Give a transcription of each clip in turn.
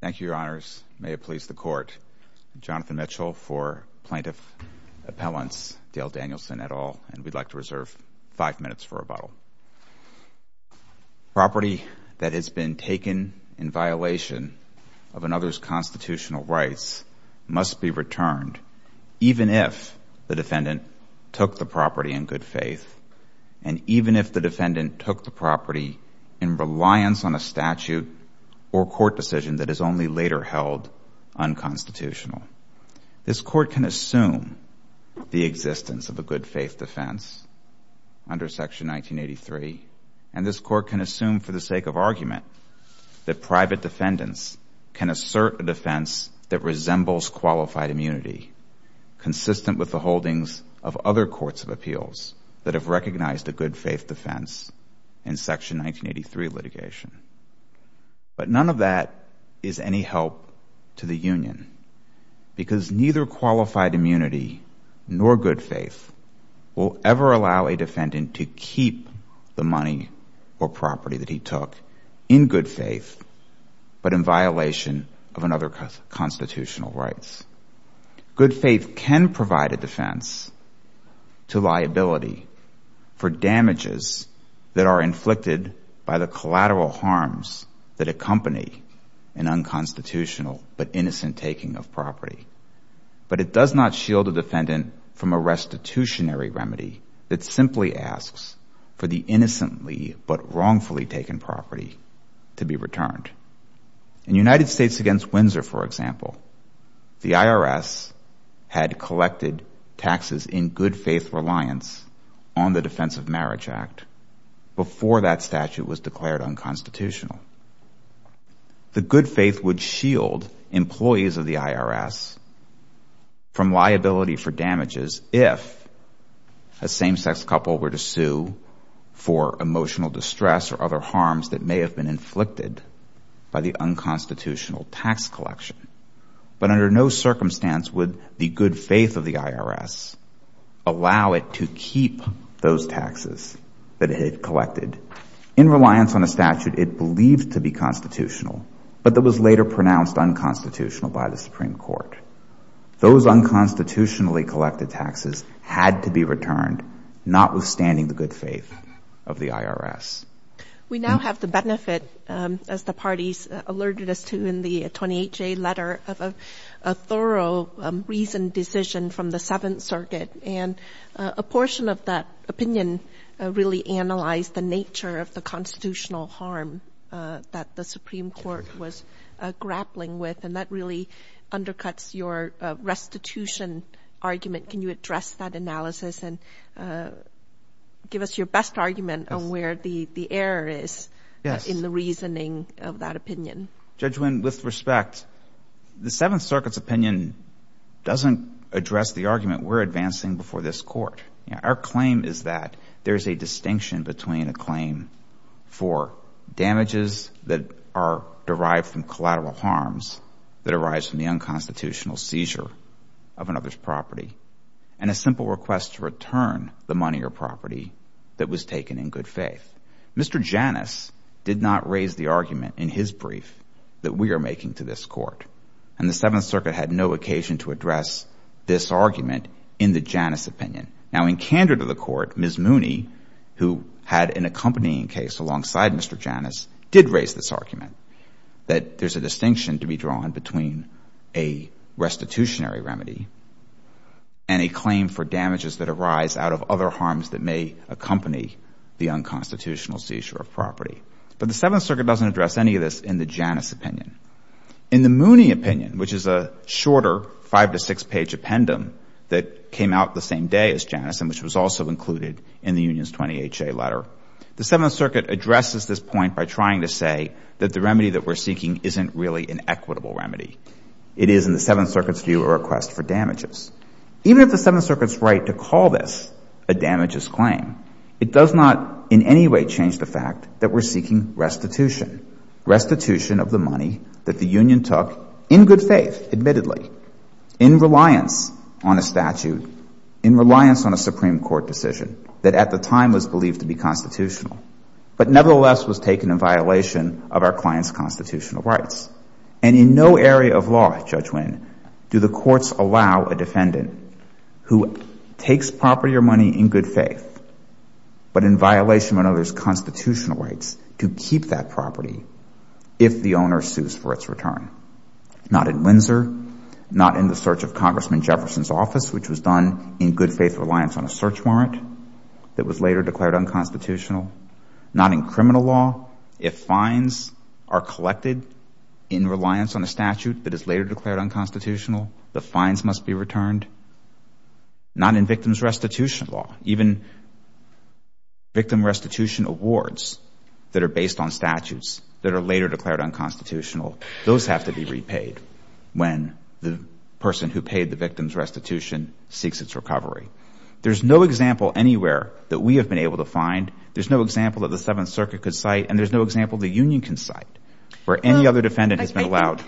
Thank you, Your Honors. May it please the Court. I'm Jonathan Mitchell for Plaintiff Appellants, Dale Danielson et al., and we'd like to reserve five minutes for rebuttal. Property that has been taken in violation of another's constitutional rights must be returned even if the defendant took the property in good faith and even if the defendant took the property in reliance on a statute or court decision that is only later held unconstitutional. This Court can assume the existence of a good faith defense under Section 1983, and this Court can assume for the sake of argument that private defendants can assert a defense that resembles qualified immunity, consistent with the holdings of other courts of appeals that have recognized a good faith defense in Section 1983 litigation. But none of that is any help to the Union because neither qualified immunity nor good faith will ever allow a defendant to keep the money or property that he took in good faith but in violation of another's constitutional rights. Good faith can provide a defense to liability for damages that are inflicted by the collateral harms that accompany an unconstitutional but innocent taking of property, but it does not shield a defendant from a restitutionary remedy that simply asks for the innocently but wrongfully taken property to be returned. In United States against Windsor, for example, the IRS had collected taxes in good faith reliance on the Defense of Marriage Act before that statute was declared unconstitutional. The good faith would shield employees of the IRS from liability for damages if a same-sex couple were to sue for emotional distress or other harms that may have been inflicted by the unconstitutional tax collection. But under no circumstance would the good faith of the IRS allow it to keep those taxes that it had collected in reliance on a statute it believed to be constitutional but that was later pronounced unconstitutional by the Supreme Court. Those unconstitutionally collected taxes had to be returned notwithstanding the good faith of the IRS. We now have the benefit, as the parties alerted us to in the 28-J letter, of a thorough reasoned decision from the Seventh Circuit and a portion of that opinion really analyzed the nature of the constitutional harm that the Supreme Court was grappling with. And that really undercuts your restitution argument. Can you address that analysis and give us your best argument on where the error is in the reasoning of that opinion? Yes. Judge Wynn, with respect, the Seventh Circuit's opinion doesn't address the argument we're advancing before this Court. Our claim is that there's a distinction between a claim for damages that are derived from collateral harms that arise from the unconstitutional seizure of another's property and a simple request to return the money or property that was taken in good faith. Mr. Janus did not raise the argument in his brief that we are making to this Court. And the Seventh Circuit had no occasion to address this argument in the Janus opinion. Now, in candor to the Court, Ms. Mooney, who had an accompanying case alongside Mr. Janus, did raise this argument, that there's a distinction to be drawn between a restitutionary remedy and a claim for damages that arise out of other harms that may accompany the unconstitutional seizure of property. But the Seventh Circuit doesn't address any of this in the Janus opinion. In the Mooney opinion, which is a shorter five- to six-page appendum that came out the same day as Janus and which was also included in the Union's 20HA letter, the Seventh Circuit addresses this point by trying to say that the remedy that we're seeking isn't really an equitable remedy. It is, in the Seventh Circuit's view, a request for damages. Even if the Seventh Circuit's right to call this a damages claim, it does not in any way change the fact that we're seeking restitution, restitution of the money that the Union took in good faith, admittedly, in reliance on a statute, in reliance on a Supreme Court decision that at the time was believed to be constitutional, but nevertheless was taken in violation of our client's constitutional rights. And in no area of law, Judge Winn, do the courts allow a defendant who takes property or money in good faith, but in violation of another's constitutional rights, to keep that Not in Windsor, not in the search of Congressman Jefferson's office, which was done in good faith reliance on a search warrant that was later declared unconstitutional. Not in criminal law. If fines are collected in reliance on a statute that is later declared unconstitutional, the fines must be returned. Not in victim's restitution law. Even victim restitution awards that are based on statutes that are later declared unconstitutional, those have to be repaid when the person who paid the victim's restitution seeks its recovery. There's no example anywhere that we have been able to find, there's no example that the Seventh Circuit could cite, and there's no example the Union can cite, where any other defendant has been allowed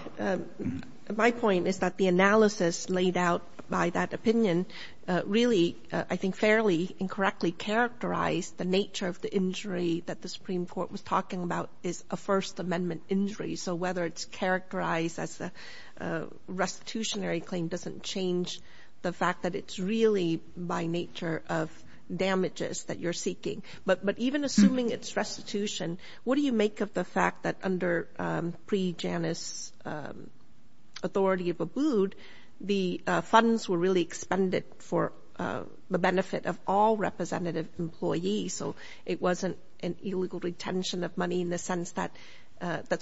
My point is that the analysis laid out by that opinion really, I think, fairly incorrectly characterized the nature of the injury that the Supreme Court was talking about is a First Amendment injury. So whether it's characterized as a restitutionary claim doesn't change the fact that it's really by nature of damages that you're seeking. But even assuming it's restitution, what do you make of the fact that under pre-Janus authority of Abood, the plaintiff was a competitive employee, so it wasn't an illegal retention of money in the sense that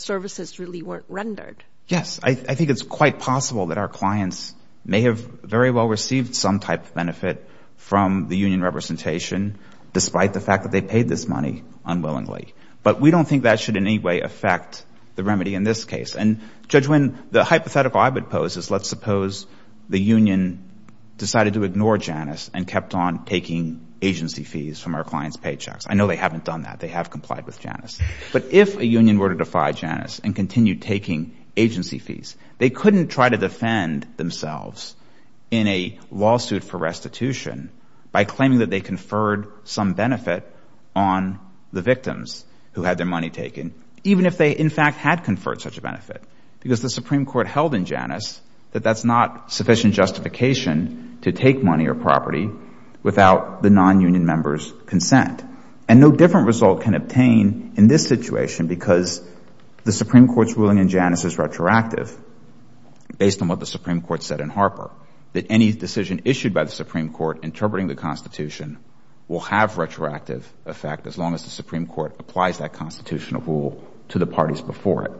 services really weren't rendered? Yes. I think it's quite possible that our clients may have very well received some type of benefit from the Union representation, despite the fact that they paid this money unwillingly. But we don't think that should in any way affect the remedy in this case. And Judge Winn, the hypothetical I would pose is let's suppose the Union decided to ignore agency fees from our clients' paychecks. I know they haven't done that. They have complied with Janus. But if a Union were to defy Janus and continue taking agency fees, they couldn't try to defend themselves in a lawsuit for restitution by claiming that they conferred some benefit on the victims who had their money taken, even if they, in fact, had conferred such a benefit. Because the Supreme Court held in Janus that that's not sufficient justification to take money or property without the non-Union members' consent. And no different result can obtain in this situation because the Supreme Court's ruling in Janus is retroactive, based on what the Supreme Court said in Harper, that any decision issued by the Supreme Court interpreting the Constitution will have retroactive effect as long as the Supreme Court applies that constitutional rule to the parties before it,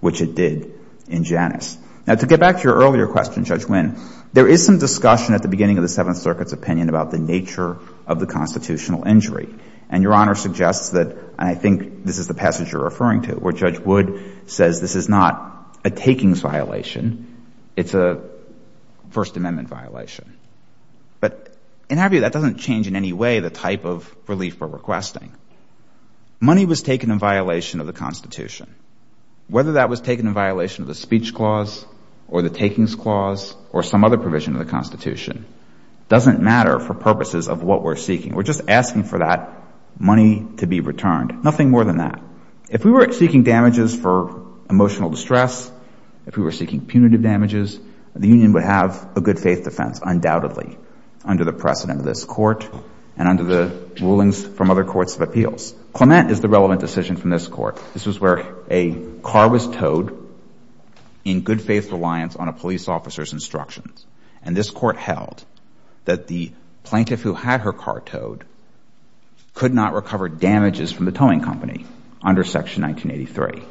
which it did in Janus. Now, to get back to your earlier question, Judge Wynn, there is some discussion at the beginning of the Seventh Circuit's opinion about the nature of the constitutional injury. And Your Honor suggests that, and I think this is the passage you're referring to, where Judge Wood says this is not a takings violation, it's a First Amendment violation. But in Harper, that doesn't change in any way the type of relief we're requesting. Money was taken in violation of the Constitution. Whether that was taken in violation of the speech clause or the takings clause or some other provision of the Constitution doesn't matter for purposes of what we're seeking. We're just asking for that money to be returned. Nothing more than that. If we were seeking damages for emotional distress, if we were seeking punitive damages, the Union would have a good-faith defense, undoubtedly, under the precedent of this Court and under the rulings from other courts of appeals. Clement is the relevant decision from this Court. This was where a car was towed in good-faith reliance on a police officer's instructions. And this Court held that the plaintiff who had her car towed could not recover damages from the towing company under Section 1983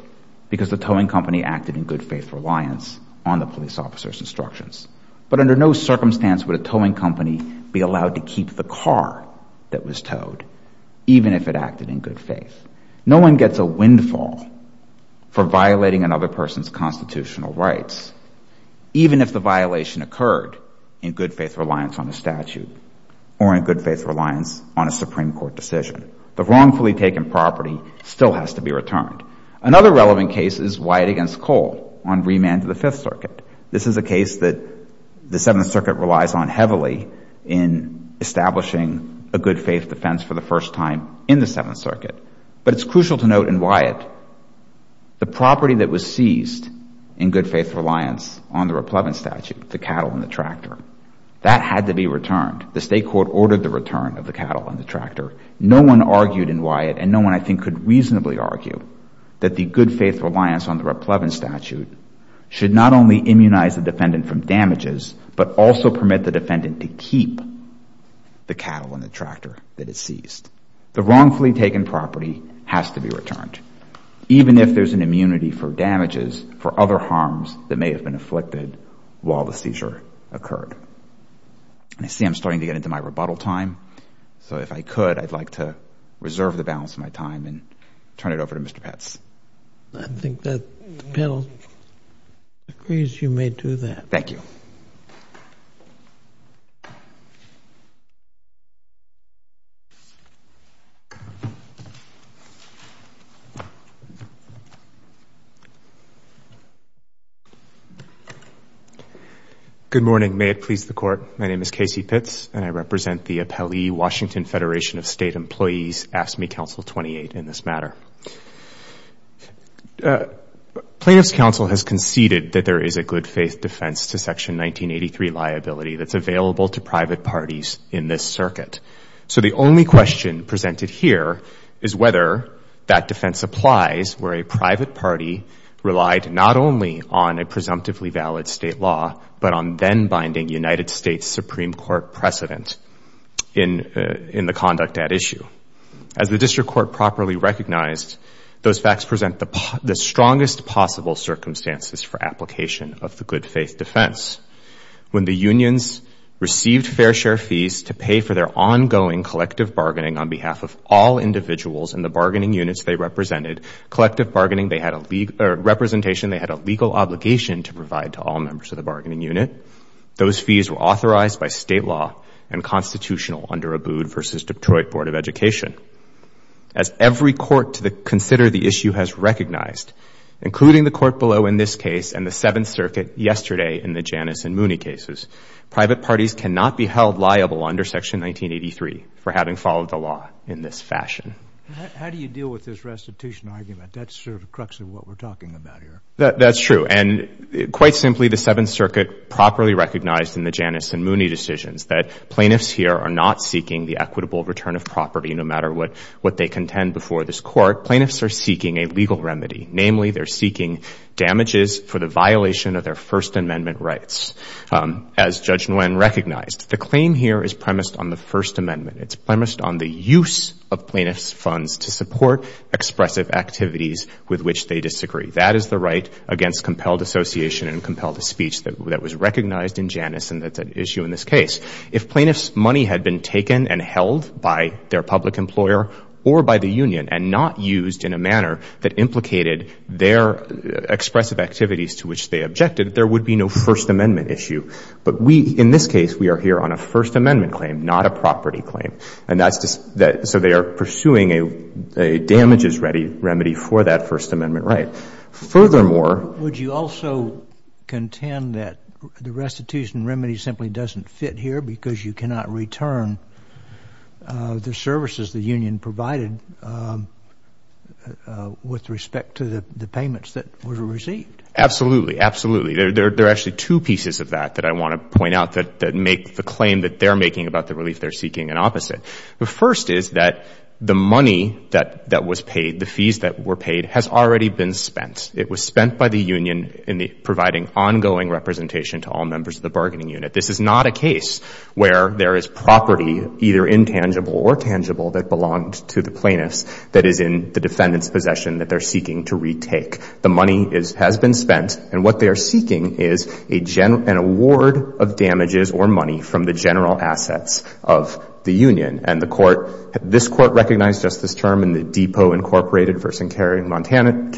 because the towing company acted in good-faith reliance on the police officer's instructions. But under no circumstance would a towing company be allowed to keep the car that was towed, even if it acted in good faith. No one gets a windfall for violating another person's constitutional rights, even if the violation occurred in good-faith reliance on a statute or in good-faith reliance on a Supreme Court decision. The wrongfully taken property still has to be returned. Another relevant case is Wyatt v. Cole on remand to the Fifth Circuit. This is a case that the Seventh Circuit relies on heavily in establishing a good-faith defense for the first time in the Seventh Circuit. But it's crucial to note in Wyatt, the property that was seized in good-faith reliance on the Raplevin statute, the cattle and the tractor, that had to be returned. The State Court ordered the return of the cattle and the tractor. No one argued in Wyatt, and no one I think could reasonably argue, that the good-faith reliance on the Raplevin statute should not only immunize the defendant from damages, but also permit the defendant to keep the cattle and the tractor that it seized. The wrongfully taken property has to be returned, even if there's an immunity for damages for other harms that may have been afflicted while the seizure occurred. I see I'm starting to get into my rebuttal time. So if I could, I'd like to reserve the balance of my time and turn it over to Mr. Petz. I think that the panel agrees you may do that. Thank you. Good morning. May it please the Court. My name is Casey Petz, and I represent the Appellee Washington Federation of State Employees AFSCME Council 28 in this matter. Plaintiff's counsel has conceded that there is a good-faith defense to Section 1983 liability that's available to private parties in this circuit. So the only question presented here is whether that defense applies where a private party relied not only on a presumptively valid state law, but on then-binding United States Supreme Court precedent in the conduct at issue. As the District Court properly recognized, those facts present the strongest possible circumstances for application of the good-faith defense. When the unions received fair share fees to pay for their ongoing collective bargaining on behalf of all individuals in the bargaining units they represented, collective bargaining representation they had a legal obligation to provide to all members of the bargaining unit, those fees were authorized by state law and constitutional under Abood v. Detroit Board of Education. As every court to consider the issue has recognized, including the court below in this case and the Seventh Circuit yesterday in the Janus and Mooney cases, private parties cannot be held liable under Section 1983 for having followed the law in this fashion. How do you deal with this restitution argument? That's sort of the crux of what we're talking about here. That's true. And quite simply, the Seventh Circuit properly recognized in the Janus and Mooney decisions that plaintiffs here are not seeking the equitable return of property no matter what they contend before this Court. Plaintiffs are seeking a legal remedy. Namely, they're seeking damages for the violation of their First Amendment rights. As Judge Nguyen recognized, the claim here is premised on the First Amendment. It's premised on the use of plaintiffs' funds to support expressive activities with which they disagree. That is the right against compelled association and compelled speech that was recognized in Janus and that's an issue in this case. If plaintiffs' money had been taken and held by their public employer or by the union and not used in a manner that implicated their expressive activities to which they objected, there would be no First Amendment issue. But we, in this case, we are here on a First Amendment claim, not a property claim. And that's just that so they are pursuing a damages remedy for that First Amendment right. Furthermore, Would you also contend that the restitution remedy simply doesn't fit here because you cannot return the services the union provided with respect to the payments that were received? Absolutely. Absolutely. There are actually two pieces of that that I want to point out that make the claim that they're making about the relief they're seeking an opposite. The first is that the money that was paid, the fees that were paid, has already been spent. It was spent by the union in providing ongoing representation to all members of the bargaining unit. This is not a case where there is property, either intangible or tangible, that belonged to the plaintiffs that is in the defendant's possession that they're seeking to retake. The money has been spent and what they are seeking is an award of damages or money from the general assets of the This Court recognized just this term in the Depot, Inc. v.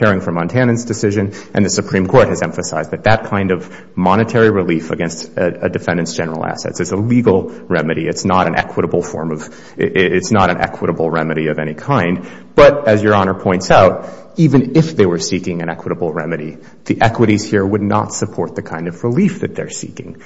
Caring for Montanans decision, and the Supreme Court has emphasized that that kind of monetary relief against a defendant's general assets is a legal remedy. It's not an equitable form of, it's not an equitable remedy of any kind. But as Your Honor points out, even if they were seeking an equitable remedy, the equities here would not support the kind of relief that they're seeking.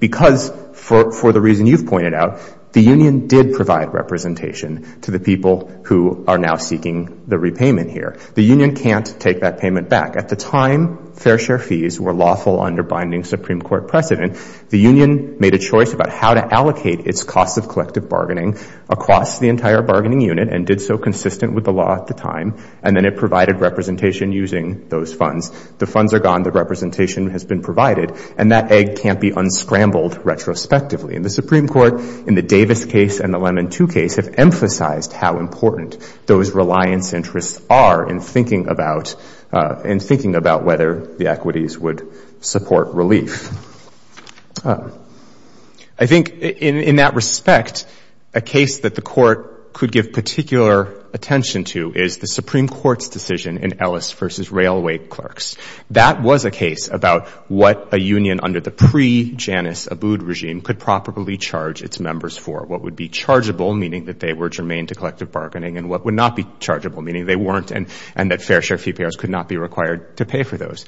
Because for the you've pointed out, the union did provide representation to the people who are now seeking the repayment here. The union can't take that payment back. At the time, fair share fees were lawful under binding Supreme Court precedent. The union made a choice about how to allocate its cost of collective bargaining across the entire bargaining unit and did so consistent with the law at the time, and then it provided representation using those funds. The funds are gone. The in the Davis case and the Lemon II case have emphasized how important those reliance interests are in thinking about whether the equities would support relief. I think in that respect, a case that the Court could give particular attention to is the Supreme Court's decision in Ellis v. Railway clerks. That was a case about what a union under the pre-Janus Abood regime could properly charge its members for. What would be chargeable, meaning that they were germane to collective bargaining, and what would not be chargeable, meaning they weren't, and that fair share fee payers could not be required to pay for those.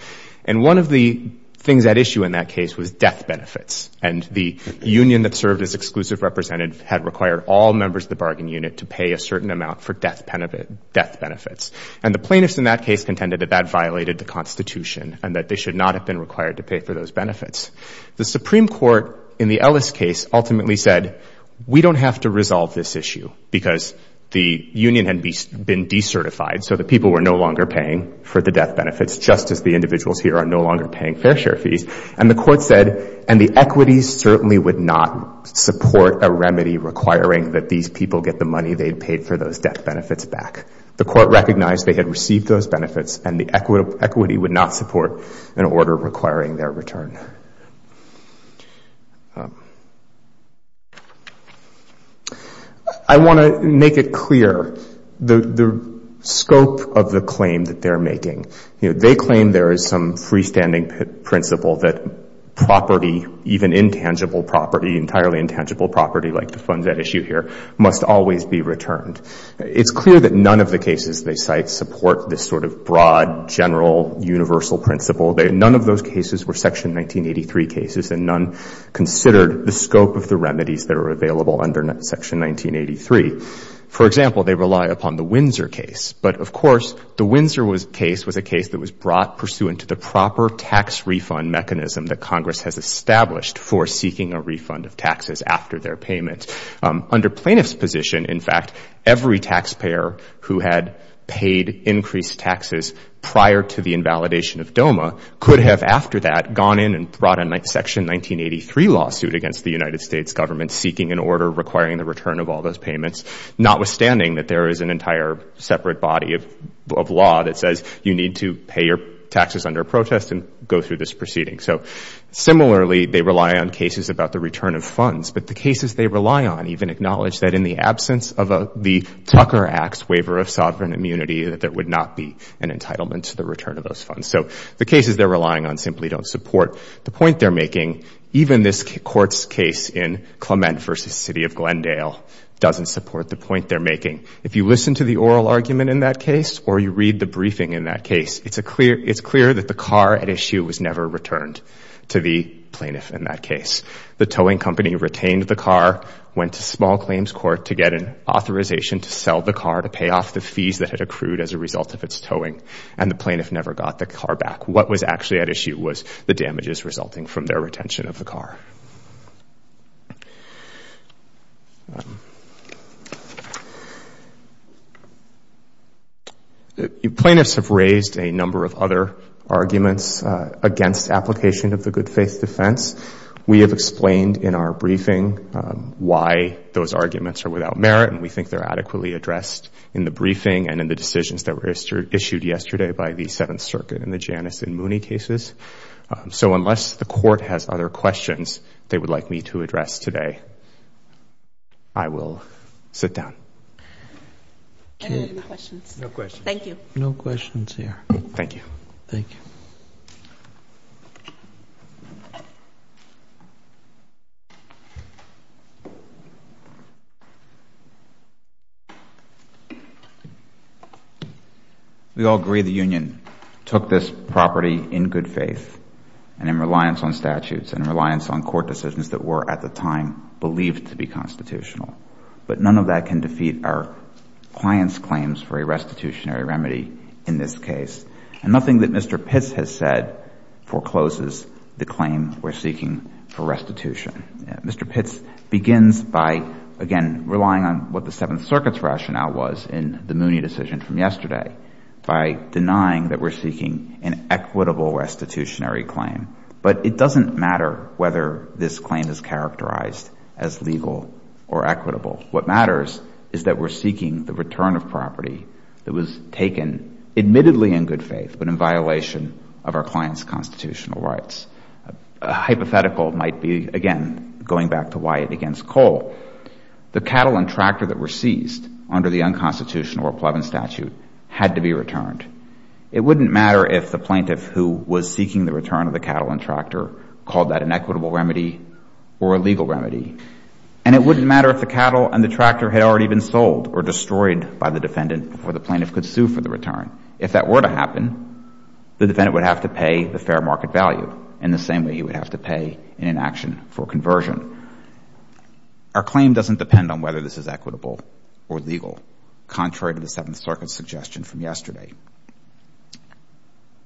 One of the things at issue in that case was death benefits. The union that served as exclusive representative had required all members of the bargain unit to pay a certain amount for death benefits. The plaintiffs in that case contended that that violated the Constitution and that should not have been required to pay for those benefits. The Supreme Court in the Ellis case ultimately said, we don't have to resolve this issue because the union had been decertified, so the people were no longer paying for the death benefits, just as the individuals here are no longer paying fair share fees. And the Court said, and the equities certainly would not support a remedy requiring that these people get the money they paid for those death benefits back. The Court recognized they had received those benefits and the equity would not support an order requiring their return. I want to make it clear the scope of the claim that they're making. They claim there is some freestanding principle that property, even intangible property, entirely intangible property like the funds at issue here, must always be returned. It's clear that none of the cases they cite support this sort of broad, general, universal principle. None of those cases were Section 1983 cases and none considered the scope of the remedies that are available under Section 1983. For example, they rely upon the Windsor case. But, of course, the Windsor case was a case that was brought pursuant to the proper tax refund mechanism that Congress has established for seeking a refund of taxes after their payment. Under plaintiff's position, in fact, every taxpayer who had paid increased taxes prior to the invalidation of DOMA could have, after that, gone in and brought a Section 1983 lawsuit against the United States government seeking an order requiring the return of all those payments, notwithstanding that there is an entire separate body of law that says you need to pay your taxes under a protest and go through this about the return of funds. But the cases they rely on even acknowledge that in the absence of the Tucker Act's waiver of sovereign immunity that there would not be an entitlement to the return of those funds. So the cases they're relying on simply don't support the point they're making. Even this Court's case in Clement v. City of Glendale doesn't support the point they're making. If you listen to the oral argument in that case or you read the briefing in that case, it's clear that the car at issue was never returned to the plaintiff in that case. The towing company retained the car, went to small claims court to get an authorization to sell the car to pay off the fees that had accrued as a result of its towing, and the plaintiff never got the car back. What was actually at issue was the damages resulting from their retention of the number of other arguments against application of the good faith defense. We have explained in our briefing why those arguments are without merit, and we think they're adequately addressed in the briefing and in the decisions that were issued yesterday by the Seventh Circuit in the Janus and Mooney cases. So unless the Court has other questions they would like me to address today, I will sit down. No questions. Thank you. No questions here. Thank you. Thank you. We all agree the Union took this property in good faith and in reliance on statutes and in reliance on court decisions that were at the time believed to be constitutional, but none of that can defeat our client's claims for a restitutionary remedy in this case, and nothing that Mr. Pitts has said forecloses the claim we're seeking for restitution. Mr. Pitts begins by, again, relying on what the Seventh Circuit's rationale was in the Mooney decision from yesterday by denying that we're seeking an equitable restitutionary but it doesn't matter whether this claim is characterized as legal or equitable. What matters is that we're seeking the return of property that was taken admittedly in good faith but in violation of our client's constitutional rights. A hypothetical might be, again, going back to Wyatt against Cole. The cattle and tractor that were seized under the unconstitutional or Plevin statute had to be returned. It wouldn't matter if the plaintiff who was seeking the return of the cattle and tractor called that an equitable remedy or a legal remedy, and it wouldn't matter if the cattle and the tractor had already been sold or destroyed by the defendant before the plaintiff could sue for the return. If that were to happen, the defendant would have to pay the fair market value in the same way he would have to pay in an action for conversion. Our claim doesn't depend on whether this is equitable or legal, contrary to the Seventh Circuit's suggestion from yesterday.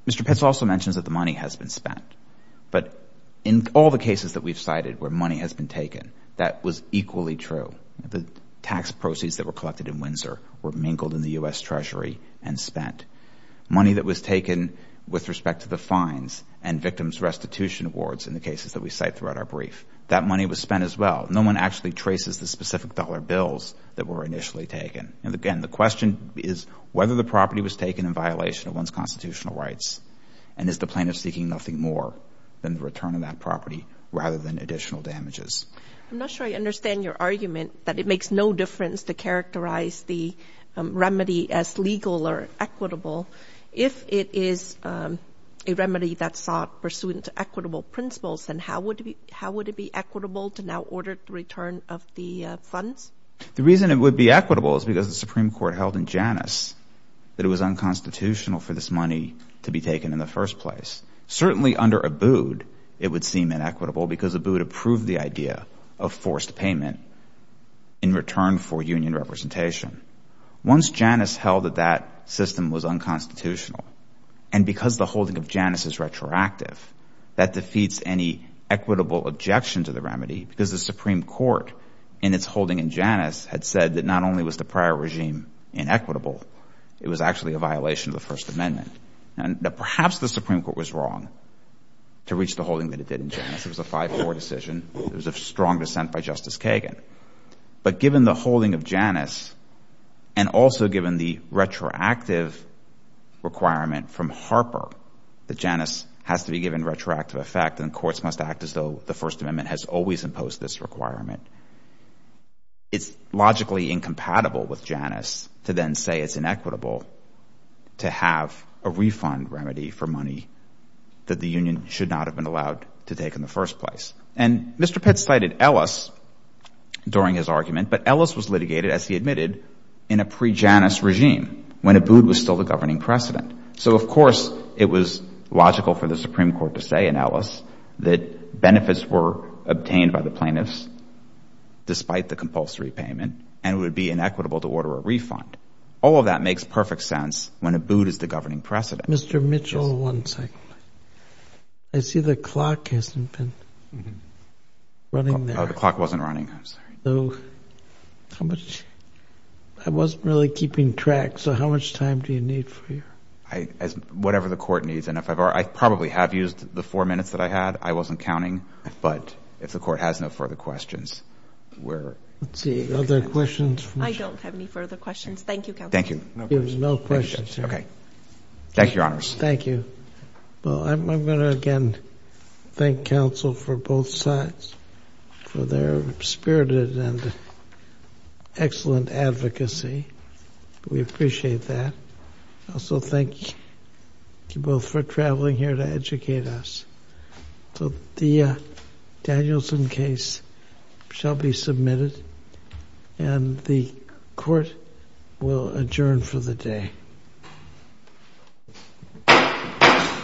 Mr. Pitts also mentions that the money has been spent, but in all the cases that we've cited where money has been taken, that was equally true. The tax proceeds that were collected in Windsor were mingled in the U.S. Treasury and spent. Money that was taken with respect to the fines and victim's restitution awards in the cases that we cite throughout our brief, that money was spent as well. No one actually traces the specific dollar bills that were in violation of one's constitutional rights, and is the plaintiff seeking nothing more than the return of that property rather than additional damages? I'm not sure I understand your argument that it makes no difference to characterize the remedy as legal or equitable. If it is a remedy that's sought pursuant to equitable principles, then how would it be equitable to now order the return of the funds? The reason it would be equitable is because the Supreme Court held in Janus that it was unconstitutional for this money to be taken in the first place. Certainly under Abood, it would seem inequitable because Abood approved the idea of forced payment in return for union representation. Once Janus held that that system was unconstitutional, and because the holding of Janus is retroactive, that defeats any equitable objection to the remedy because the Supreme Court, in its holding in Janus, had said that not only was the prior regime inequitable, it was actually a violation of the First Amendment. Perhaps the Supreme Court was wrong to reach the holding that it did in Janus. It was a 5-4 decision. It was of strong dissent by Justice Kagan. But given the holding of Janus, and also given the retroactive requirement from Harper that Janus has to be given retroactive effect, and courts must act as though the First Amendment has always imposed this requirement, it's logically incompatible with Janus to then say it's inequitable to have a refund remedy for money that the union should not have been allowed to take in the first place. And Mr. Pitt cited Ellis during his argument, but Ellis was litigated, as he admitted, in a pre-Janus regime when Abood was still the governing precedent. So of course, it was logical for the Supreme Court to say in despite the compulsory payment, and it would be inequitable to order a refund. All of that makes perfect sense when Abood is the governing precedent. Mr. Mitchell, one second. I see the clock hasn't been running. The clock wasn't running. I'm sorry. I wasn't really keeping track. So how much time do you need for you? Whatever the court needs. And I probably have used the four minutes that I had. I wasn't counting. But if the court has no further questions, we're... Let's see. Are there questions? I don't have any further questions. Thank you, counsel. Thank you. There's no questions here. Okay. Thank you, Your Honors. Thank you. Well, I'm going to again thank counsel for both sides for their spirited and excellent advocacy. We appreciate that. Also, thank you both for traveling here to educate us. So the Danielson case shall be submitted and the court will adjourn for the day.